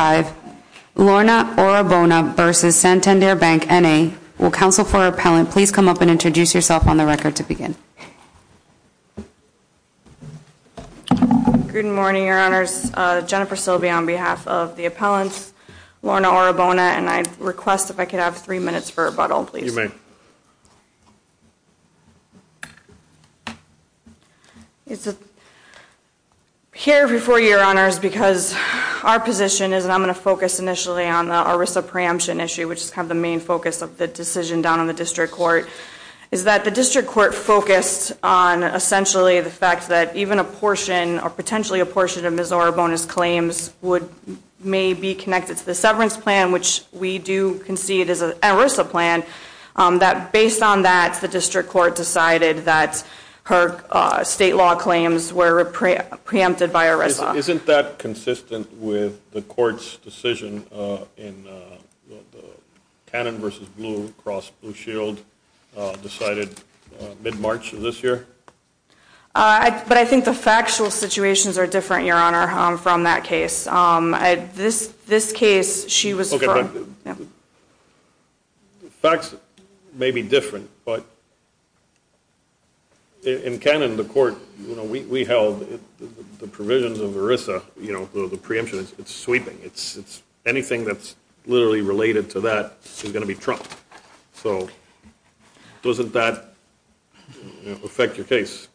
Will counsel for appellant please come up and introduce yourself on the record to begin. Good morning, Your Honors. Jennifer Silbey on behalf of the appellants, Lorna Orabona, and I request if I could have three minutes for rebuttal, please. You may. Here before you, Your Honors, because our position is, and I'm going to focus initially on the ERISA preemption issue, which is kind of the main focus of the decision down on the district court, is that the district court focused on essentially the fact that even a portion or potentially a portion of Ms. Orabona's claims would, may be connected to the severance plan, which we do concede is an ERISA plan, that based on that, the district court decided that her state law claims were preempted by ERISA. Isn't that consistent with the court's decision in the Cannon v. Blue, across Blue Shield, decided mid-March of this year? But I think the factual situations are different, Your Honor, from that case. This case, she was firm. Facts may be different, but in Cannon, the court, we held the provisions of ERISA, you know, the preemption, it's sweeping. Anything that's literally related to that is going to be trumped. So doesn't that affect your case?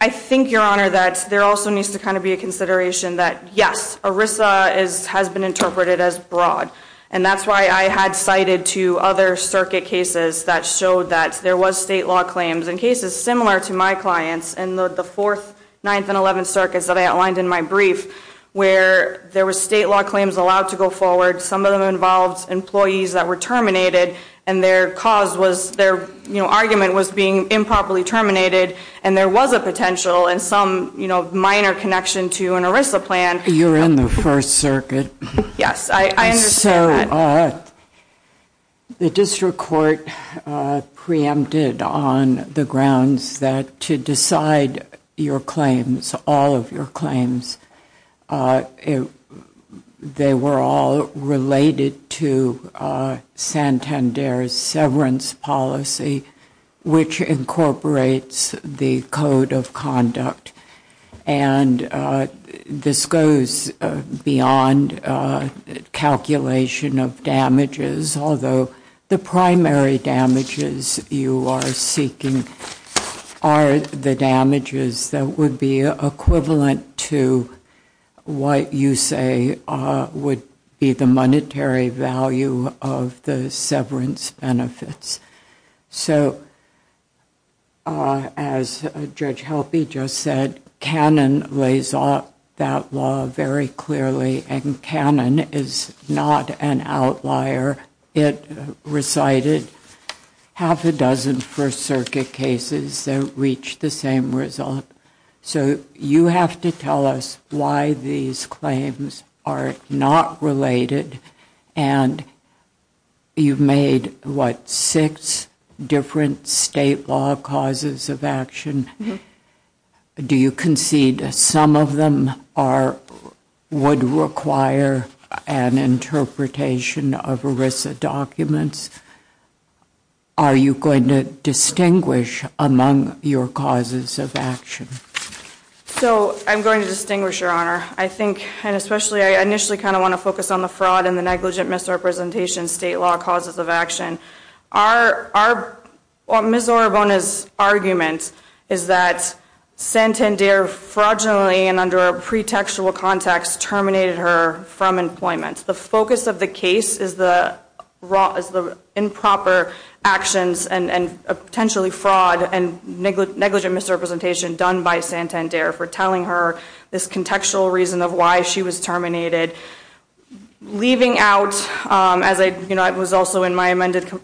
I think, Your Honor, that there also needs to kind of be a consideration that, yes, ERISA has been interpreted as broad, and that's why I had cited two other circuit cases that showed that there was state law claims in cases similar to my clients in the fourth, ninth, and eleventh circuits that I outlined in my brief, where there was state law claims allowed to go forward. Some of them involved employees that were terminated, and their cause was, their, you know, argument was being improperly terminated, and there was a potential and some, you know, minor connection to an ERISA plan. You're in the first circuit. Yes, I understand that. So, the district court preempted on the grounds that to decide your claims, all of your claims, they were all related to Santander's severance policy, which incorporates the code of conduct, and this goes beyond calculation of damages, although the primary damages you are seeking are the damages that would be equivalent to what you say would be the monetary value of the severance benefits. So, as Judge Helpe just said, Cannon lays off that law very clearly, and Cannon is not an outlier. It recited half a dozen first circuit cases, and it's not cases that reach the same result. So, you have to tell us why these claims are not related, and you've made, what, six different state law causes of action. Do you concede some of them are, would require an interpretation of ERISA documents? Are you going to distinguish among your causes of action? So, I'm going to distinguish, Your Honor. I think, and especially, I initially kind of want to focus on the fraud and the negligent misrepresentation state law causes of action. Our, Ms. Orobona's argument is that Santander fraudulently and under a pretextual context terminated her from employment. The focus of the case is the improper actions and potentially fraud and negligent misrepresentation done by Santander for telling her this contextual reason of why she was terminated. Leaving out, as I, you know, I was also in my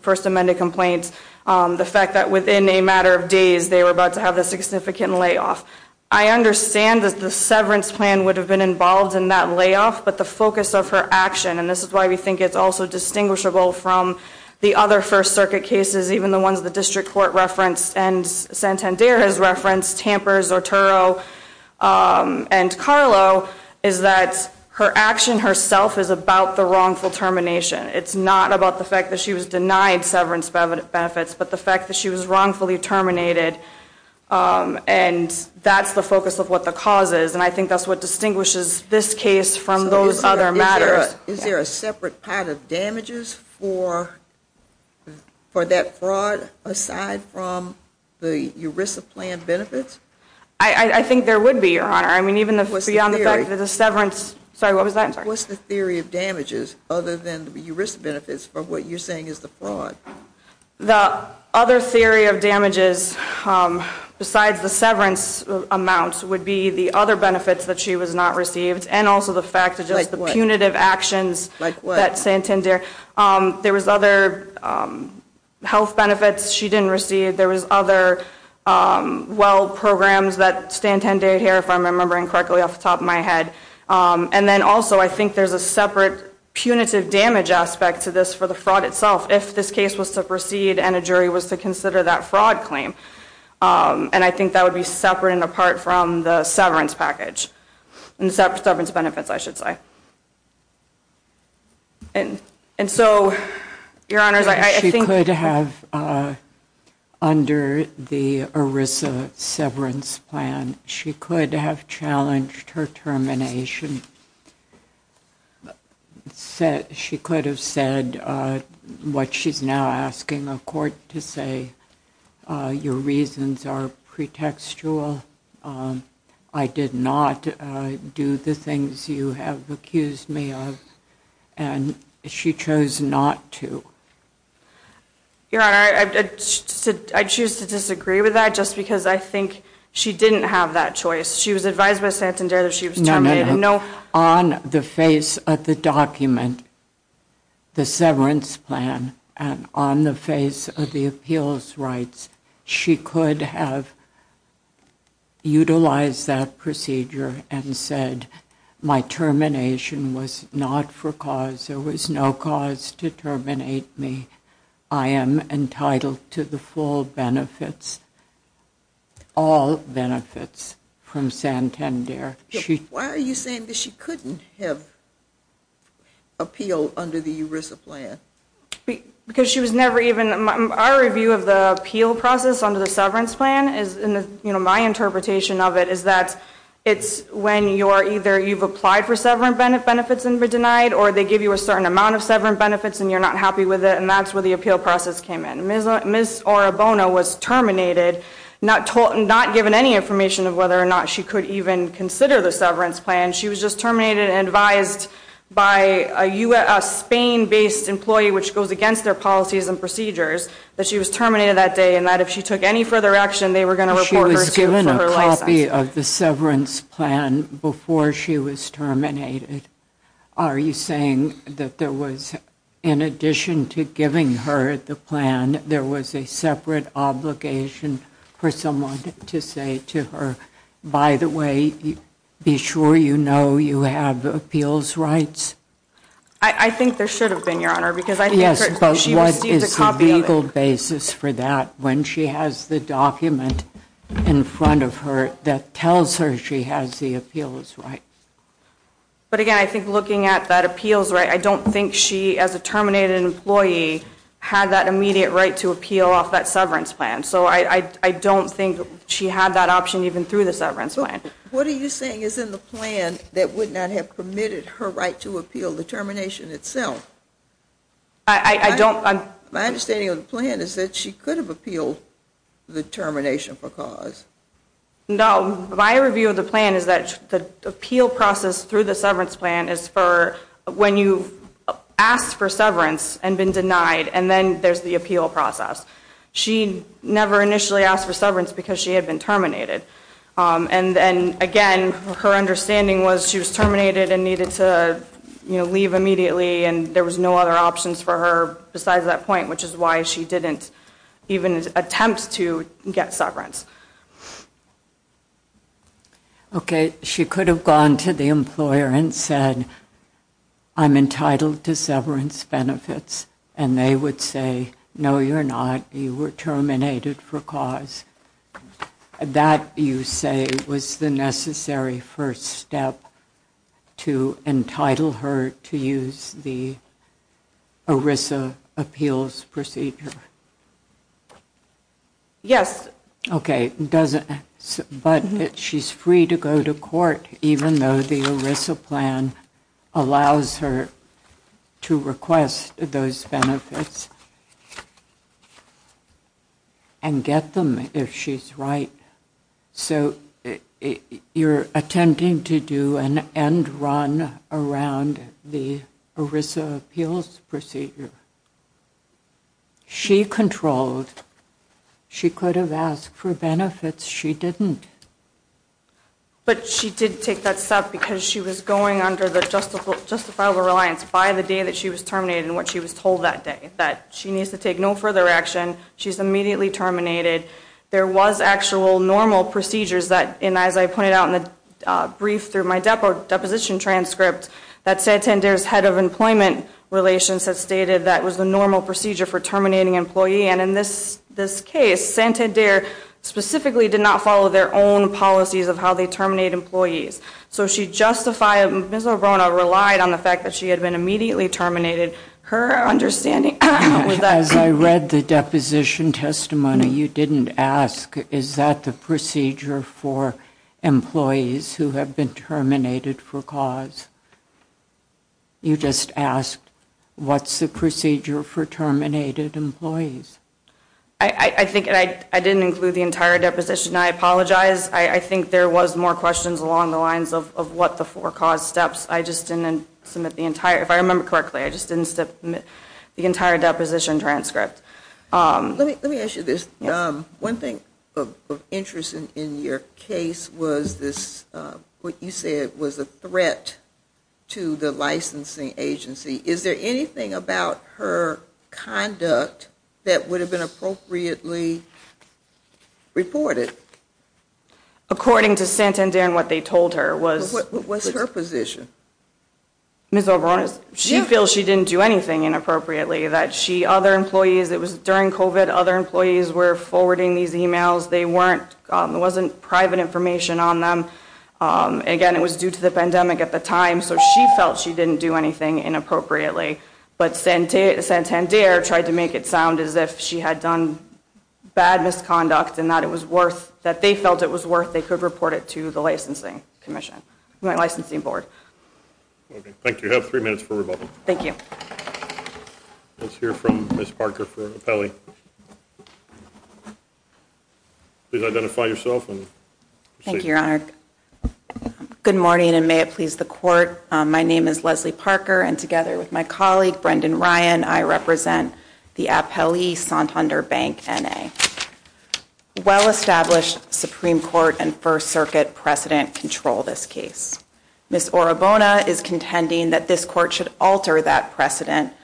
first amended complaint, the fact that within a matter of days they were about to have a significant layoff. I understand that the severance plan would have been involved in that layoff, but the focus of her action, and this is why we think it's also distinguishable from the other First Circuit cases, even the ones the District Court referenced and Santander has referenced, Tamper, Zortoro, and Carlo, is that her action herself is about the wrongful termination. It's not about the fact that she was denied severance benefits, but the fact that she was wrongfully terminated, and that's the focus of what the cause is, and I think that's what distinguishes this case from those other matters. But is there a separate pad of damages for that fraud aside from the ERISA plan benefits? I think there would be, Your Honor. I mean even beyond the fact that the severance, sorry what was that, I'm sorry. What's the theory of damages other than the ERISA benefits for what you're saying is the fraud? The other theory of damages besides the severance amounts would be the other benefits that she was not received, and also the fact of just the punitive actions that Santander, there was other health benefits she didn't receive, there was other well programs that Santander adhered if I'm remembering correctly off the top of my head, and then also I think there's a separate punitive damage aspect to this for the fraud itself if this case was to proceed and a jury was to consider that fraud claim, and I think that would be separate and apart from the severance package, and the severance benefits I should say. And so, Your Honors, I think She could have under the ERISA severance plan, she could have challenged her termination, she could have said what she's now asking a court to say, your reasons are pretextual, I did not do the things you have accused me of, and she chose not to. Your Honor, I choose to disagree with that just because I think she didn't have that choice, she was advised by Santander that she was terminated, no On the face of the document, the severance plan, and on the face of the appeals rights, she could have utilized that procedure and said my termination was not for cause, there was no cause to terminate me, I am entitled to the full benefits, all benefits from Santander. Why are you saying that she couldn't have appealed under the ERISA plan? Because she was never even, our review of the appeal process under the severance plan, my interpretation of it is that it's when you're either, you've applied for severance benefits and been denied, or they give you a certain amount of severance benefits and you're not happy with it, and that's where the appeal process came in. Ms. Orobono was terminated, not given any information of whether or not she could even consider the severance plan, she was just terminated and advised by a Spain-based employee which goes against their policies and procedures, that she was terminated that day and that if she took any further action, they were going to report her for her license. She was given a copy of the severance plan before she was terminated. Are you saying that there was, in addition to giving her the plan, there was a separate obligation for someone to say to her, by the way, be sure you know you have appeals rights? I think there should have been, Your Honor, because I think she received a copy of it. Yes, but what is the legal basis for that when she has the document in front of her that tells her she has the appeals rights? But again, I think looking at that appeals right, I don't think she, as a terminated employee, had that immediate right to appeal off that severance plan. So I don't think she had that option even through the severance plan. What are you saying is in the plan that would not have permitted her right to appeal the termination itself? I don't... My understanding of the plan is that she could have appealed the termination for cause. No, my review of the plan is that the appeal process through the severance plan is for when you've asked for severance and been denied and then there's the appeal process. She never initially asked for severance because she had been terminated. And then again, her understanding was she was terminated and needed to leave immediately and there was no other options for her besides that point, which is why she didn't even attempt to get severance. She could have gone to the employer and said, I'm entitled to severance benefits, and they would say, no, you're not. You were terminated for cause. That, you say, was the necessary first step to entitle her to use the ERISA appeals procedure? Yes. Okay. But she's free to go to court even though the ERISA plan allows her to request those benefits and get them if she's right. So you're attempting to do an end run around the ERISA appeals procedure. She controlled. She could have asked for benefits. She didn't. But she did take that step because she was going under the justifiable reliance by the day that she was terminated and what she was told that day, that she needs to take no further action. She's immediately terminated. There was actual normal procedures that, as I pointed out in the brief through my deposition transcript, that Santander's head of employment relations had stated that was the normal procedure for terminating an employee. And in this case, Santander specifically did not follow their own policies of how they terminate employees. So she justifiably relied on the fact that she had been immediately terminated. As I read the deposition testimony, you didn't ask, is that the procedure for employees who have been terminated for cause? You just asked, what's the procedure for terminated employees? I think I didn't include the entire deposition. I apologize. I think there was more questions along the lines of what the for cause steps. I just didn't submit the entire, if I remember correctly, I just didn't submit the entire deposition transcript. Let me ask you this. One thing of interest in your case was this, what you said was a threat to the licensing agency. Is there anything about her conduct that would have been appropriately reported? According to Santander and what they told her was... What was her position? Ms. Alvarez, she feels she didn't do anything inappropriately, that she, other employees, it was during COVID, other employees were forwarding these emails. There wasn't private information on them. Again, it was due to the pandemic at the time, so she felt she didn't do anything inappropriately. But Santander tried to make it sound as if she had done bad misconduct and that it was worth, that they felt it was worth, they could report it to the licensing commission, the licensing board. Thank you. You have three minutes for rebuttal. Thank you. Let's hear from Ms. Parker for Apelli. Please identify yourself and proceed. Thank you, Your Honor. Good morning and may it please the court. My name is Leslie Parker and together with my colleague, Brendan Ryan, I represent the Apelli Santander Bank N.A. Well-established Supreme Court and First Circuit precedent control this case. Ms. Orobona is contending that this court should alter that precedent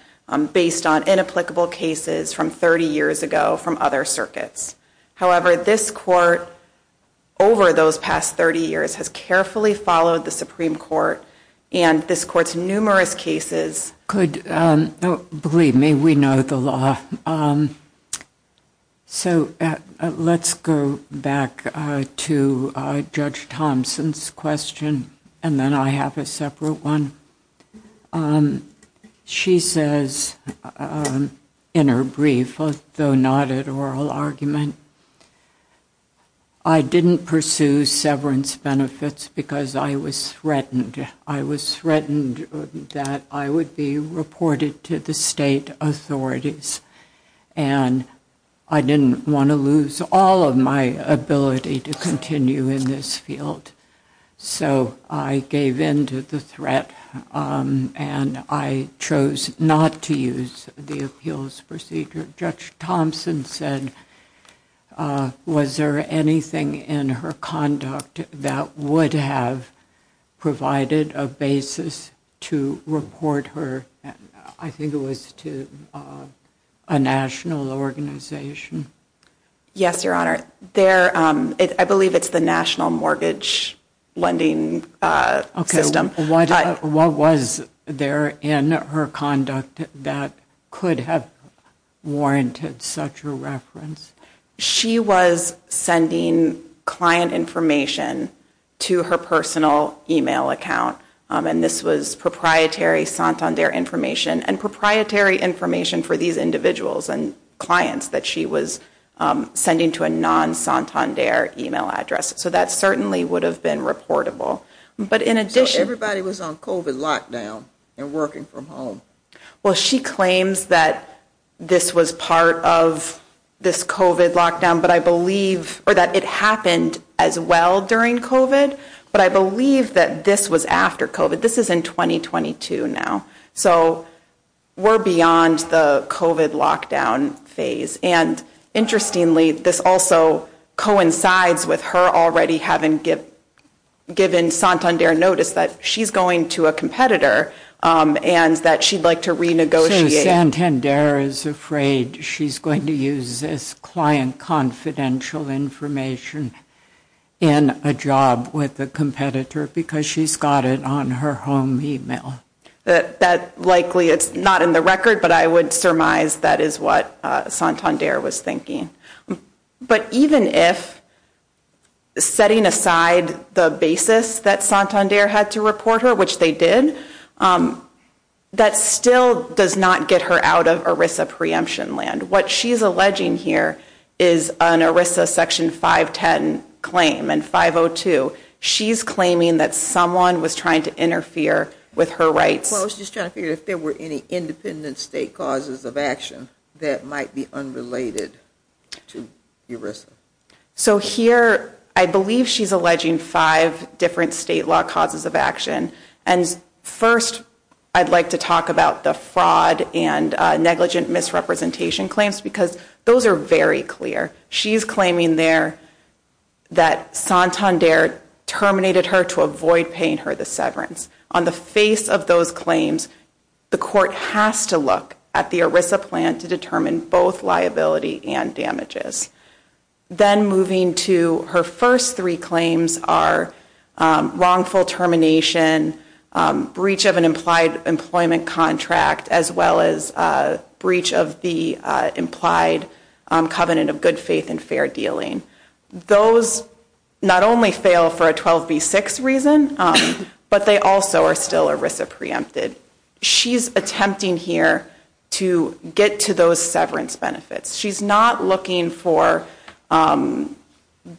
based on inapplicable cases from 30 years ago from other circuits. However, this court, over those past 30 years, has Believe me, we know the law. So let's go back to Judge Thompson's question and then I have a separate one. She says in her brief, though not at oral argument, I didn't pursue severance benefits because I was threatened. I was threatened that I would be reported to the state authorities and I didn't want to lose all of my ability to continue in this field. So I gave in to the threat and I chose not to use the appeals procedure. Judge Thompson said, was there anything in her conduct that would have provided a basis to report her, I think, to a national organization? Yes, Your Honor. I believe it's the National Mortgage Lending System. What was there in her conduct that could have warranted such a reference? She was sending client information to her personal email account and this was proprietary Santander information and proprietary information for these individuals and clients that she was sending to a non-Santander email address. So that certainly would have been reportable. So everybody was on COVID lockdown and working from home? Well, she claims that this was part of this COVID lockdown, but I believe, or that it happened as well during COVID, but I believe that this was after COVID. This is in 2022 now. So we're beyond the point where it coincides with her already having given Santander notice that she's going to a competitor and that she'd like to renegotiate. So Santander is afraid she's going to use this client confidential information in a job with a competitor because she's got it on her home email? That likely it's not in the record, but I would argue that if, setting aside the basis that Santander had to report her, which they did, that still does not get her out of ERISA preemption land. What she's alleging here is an ERISA Section 510 claim and 502. She's claiming that someone was trying to interfere with her rights. Well, I was just trying to figure if there were any independent state causes of action that might be unrelated to ERISA. So I'm not sure that's what she's trying to say. So here, I believe she's alleging five different state law causes of action. And first, I'd like to talk about the fraud and negligent misrepresentation claims because those are very clear. She's claiming there that Santander terminated her to avoid paying her the severance. On the face of those claims, the court has to look at the ERISA plan to determine both of those. So she's alluding to her first three claims are wrongful termination, breach of an implied employment contract, as well as breach of the implied covenant of good faith and fair dealing. Those not only fail for a 12B6 reason, but they also are still ERISA preempted. She's attempting here to get to those severance benefits. She's not looking for a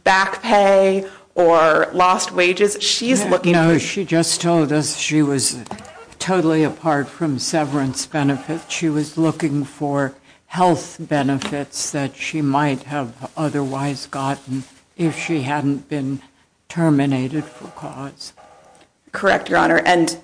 back pay or lost wages. She's looking for... No, she just told us she was totally apart from severance benefits. She was looking for health benefits that she might have otherwise gotten if she hadn't been terminated for cause. Correct, Your Honor. And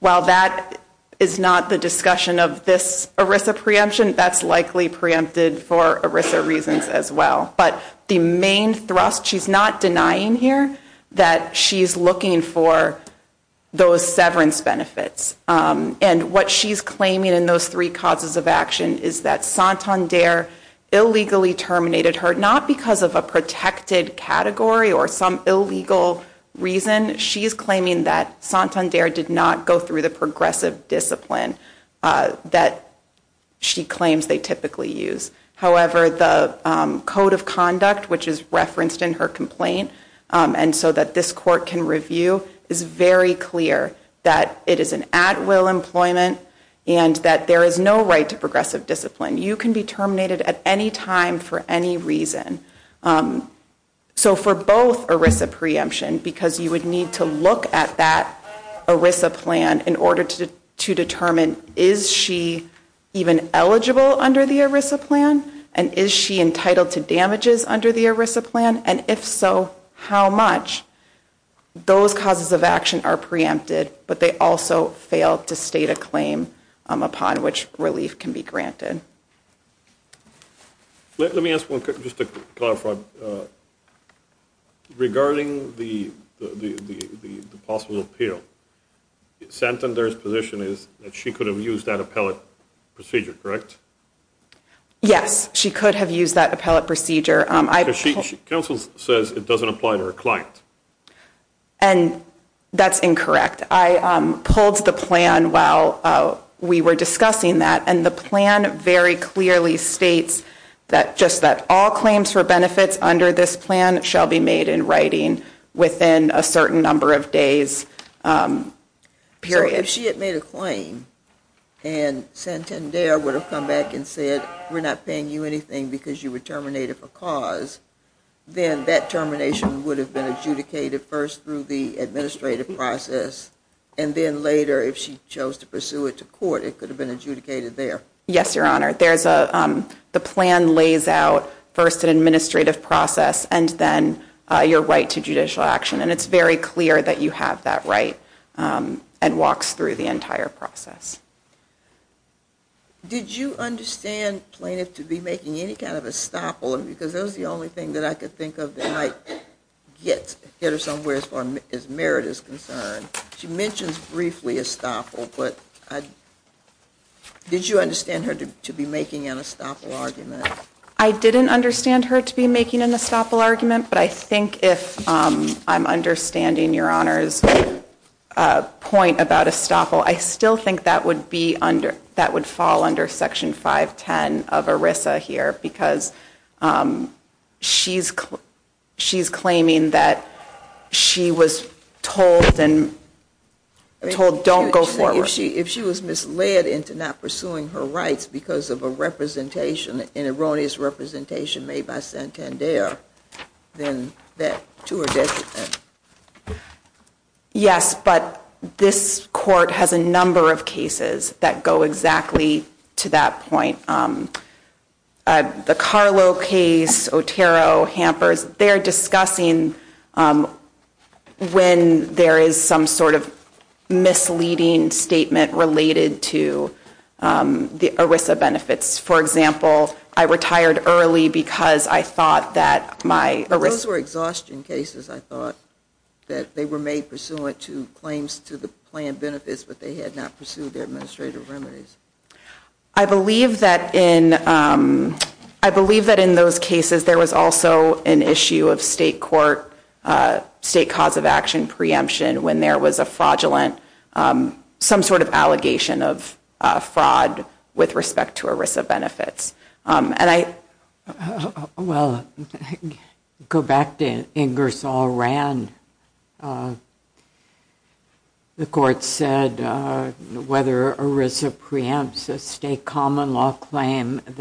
while that is not the discussion of this ERISA preemption, that's likely preempted for ERISA reasons as well. But the main thrust, she's not denying here that she's looking for those severance benefits. And what she's claiming in those three causes of action is that Santander illegally terminated her not because of a protected category or some illegal reason. She's claiming that Santander did not go through the progressive discipline that she claims they typically use. However, the code of conduct, which is referenced in her complaint and so that this court can review, is very clear that it is an at-will employment and that there is no right to progressive discipline. You can be terminated at any time for any reason. So for both ERISA preemption, because you would need to look at that ERISA plan in order to determine, is she even eligible under the ERISA plan? And is she entitled to damages under the ERISA plan? And if so, how much? Those causes of action are preempted, but they also fail to state a claim upon which relief can be granted. Let me ask one, just to clarify, regarding the possible appeal, Santander's position is that she could have used that appellate procedure, correct? Yes, she could have used that appellate procedure. Counsel says it doesn't apply to her client. And that's incorrect. I pulled the plan while we were discussing that, and the plan very clearly states that just that all claims for benefits under this plan shall be made in writing within a certain number of days, period. If she had made a claim and Santander would have come back and said we're not paying you anything because you were terminated for cause, then that termination would have been adjudicated first through the administrative process, and then later if she chose to pursue it to court, it could have been adjudicated there. Yes, Your Honor. The plan lays out first an administrative process and then your right to judicial action, and it's very clear that you have that right and walks through the entire process. Did you understand plaintiff to be making any kind of estoppel? Because that was the only thing that I could think of that might get her somewhere as far as merit is concerned. She mentions briefly estoppel, but did you understand her to be making an estoppel argument? I didn't understand her to be making an estoppel argument, but I think if I'm understanding Your Honor's point about estoppel, I still think that would fall under Section 510 of ERISA here, because she's claiming that she was told don't go forward. If she was misled into not pursuing her rights because of a representation, an erroneous representation made by Santander, then to her detriment. Yes, but this Court has a number of cases that go exactly to that point. The Carlo case, Otero, Hampers, they're discussing when there is some sort of misleading statement related to the ERISA benefits. For example, I retired early because I thought that my ERISA benefits Those were exhaustion cases, I thought, that they were made pursuant to claims to the plan benefits, but they had not pursued their administrative remedies. I believe that in those cases, there was also an issue of state court, state cause of action preemption when there was a fraudulent, some sort of allegation of fraud with respect to ERISA benefits. Well, go back to Ingersoll Rand. The Court said whether ERISA preemptions were a fraud or not.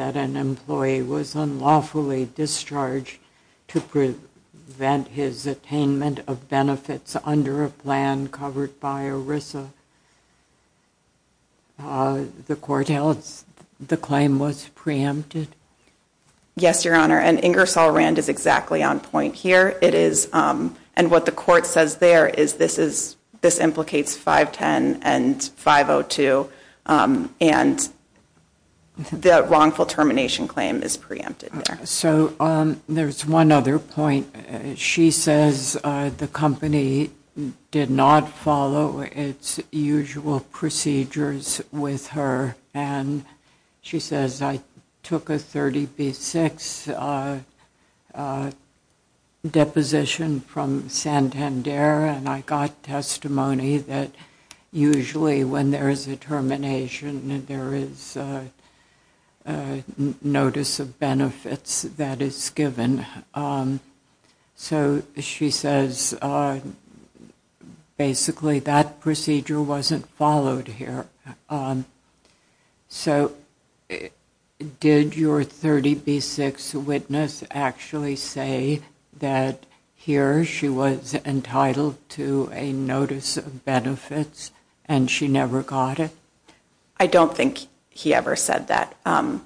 Yes, Your Honor, and Ingersoll Rand is exactly on point here. It is, and what the Court says there is this is, this implicates 510 and 502 in this case, and the wrongful termination claim is preempted there. So, there's one other point. She says the company did not follow its usual procedures with her, and she says, I took a 30B-6 deposition from Santander, and I got testimony that usually when there is a termination, it is a 30B-6 deposition. There is a notice of benefits that is given. So, she says basically that procedure wasn't followed here. So, did your 30B-6 witness actually say that here she was entitled to a notice of benefits, and she never got it? I don't think he ever said that, and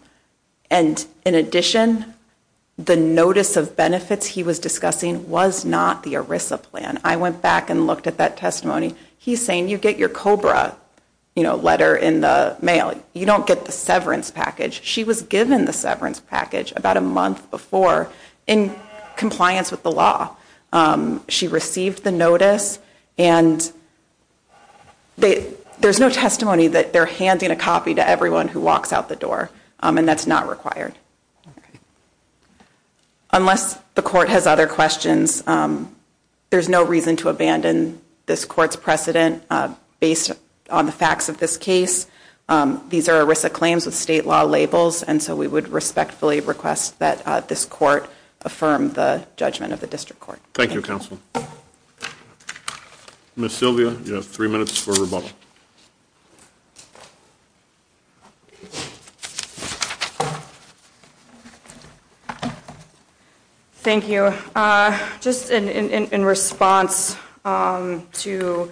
in addition, the notice of benefits he was discussing was not the ERISA plan. I went back and looked at that testimony. He's saying you get your COBRA, you know, letter in the mail. You don't get the severance package. She was given the severance package about a month before in compliance with the law. She received the notice, and there's no testimony that they're handing a copy to everyone who walks out the door, and that's not required. Unless the court has other questions, there's no reason to abandon this court's precedent based on the facts of this case. These are ERISA claims with state law labels, and so we would respectfully request that this court affirm the judgment of the district court. Thank you, counsel. Ms. Sylvia, you have three minutes for rebuttal. Thank you. Just in response to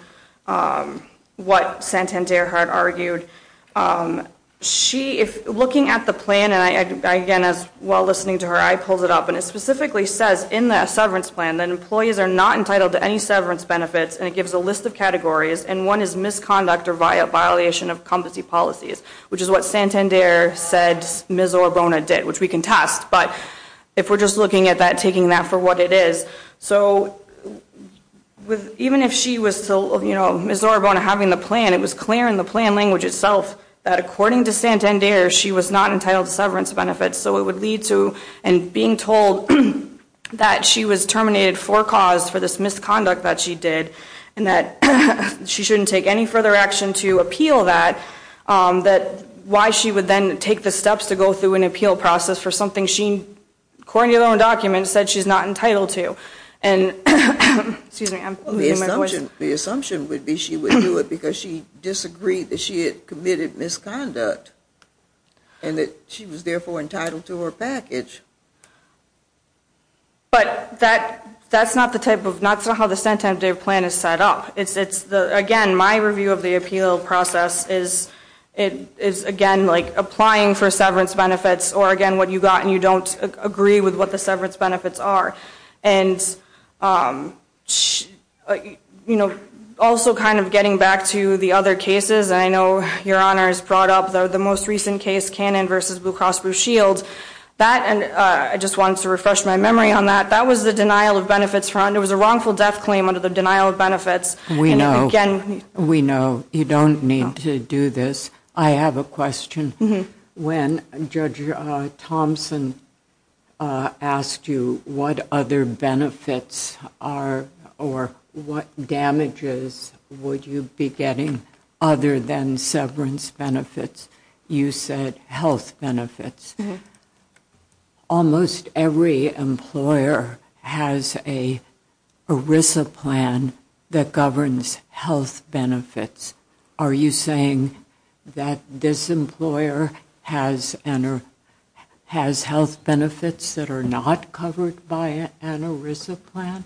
what Santander had argued, looking at the plan, and again, while listening to her, I pulled it up, and it specifically says in the severance plan that employees are not entitled to any severance benefits, and it gives a list of categories, and one is misconduct or violation of competency policies, which is what Santander said Ms. Orbona did, which we can test, but if we're just looking at that, taking that for what it is, so even if she was to, you know, Ms. Orbona having the plan, it was clear in the plan language itself that according to Santander, she was not entitled to severance benefits, so it would lead to being told that she was terminated for cause for this misconduct that she did, and that she shouldn't take any further action to appeal that, why she would then take the steps to go through an appeal process for something she, according to her own document, said she's not entitled to. Excuse me, I'm losing my voice. The assumption would be she would do it because she disagreed that she had committed misconduct, and that she was therefore entitled to her package. But that's not the type of, that's not how the Santander plan is set up. Again, my review of the appeal process is, again, applying for severance benefits, or again, what you got and you don't agree with what the severance benefits are. And, you know, also kind of getting back to the other cases, and I know Your Honor has brought up the most recent case, Cannon v. Blue Cross Blue Shield. I just wanted to refresh my memory on that. That was the denial of benefits, it was a wrongful death claim under the denial of benefits. We know, we know, you don't need to do this. I have a question. When Judge Thompson asked you what other benefits are, or what damages would you be getting other than severance benefits, you said health benefits. Almost every employer has a ERISA plan that governs health benefits. Are you saying that this employer has health benefits that are not covered by an ERISA plan?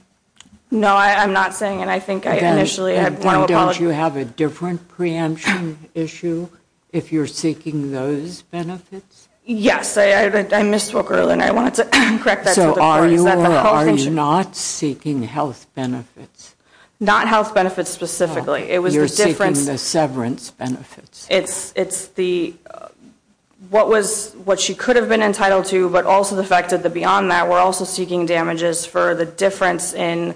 No, I'm not saying, and I think I initially, I want to apologize. Don't you have a different preemption issue if you're seeking those benefits? Yes, I misspoke earlier and I wanted to correct that. So are you not seeking health benefits? Not health benefits specifically. You're seeking the severance benefits. It's the, what was, what she could have been entitled to, but also the fact that beyond that we're also seeking damages for the difference in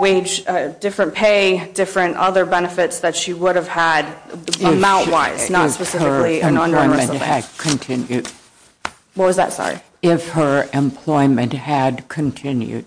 wage, different pay, different other benefits that she would have had amount wise. If her employment had continued. What was that, sorry? If her employment had continued.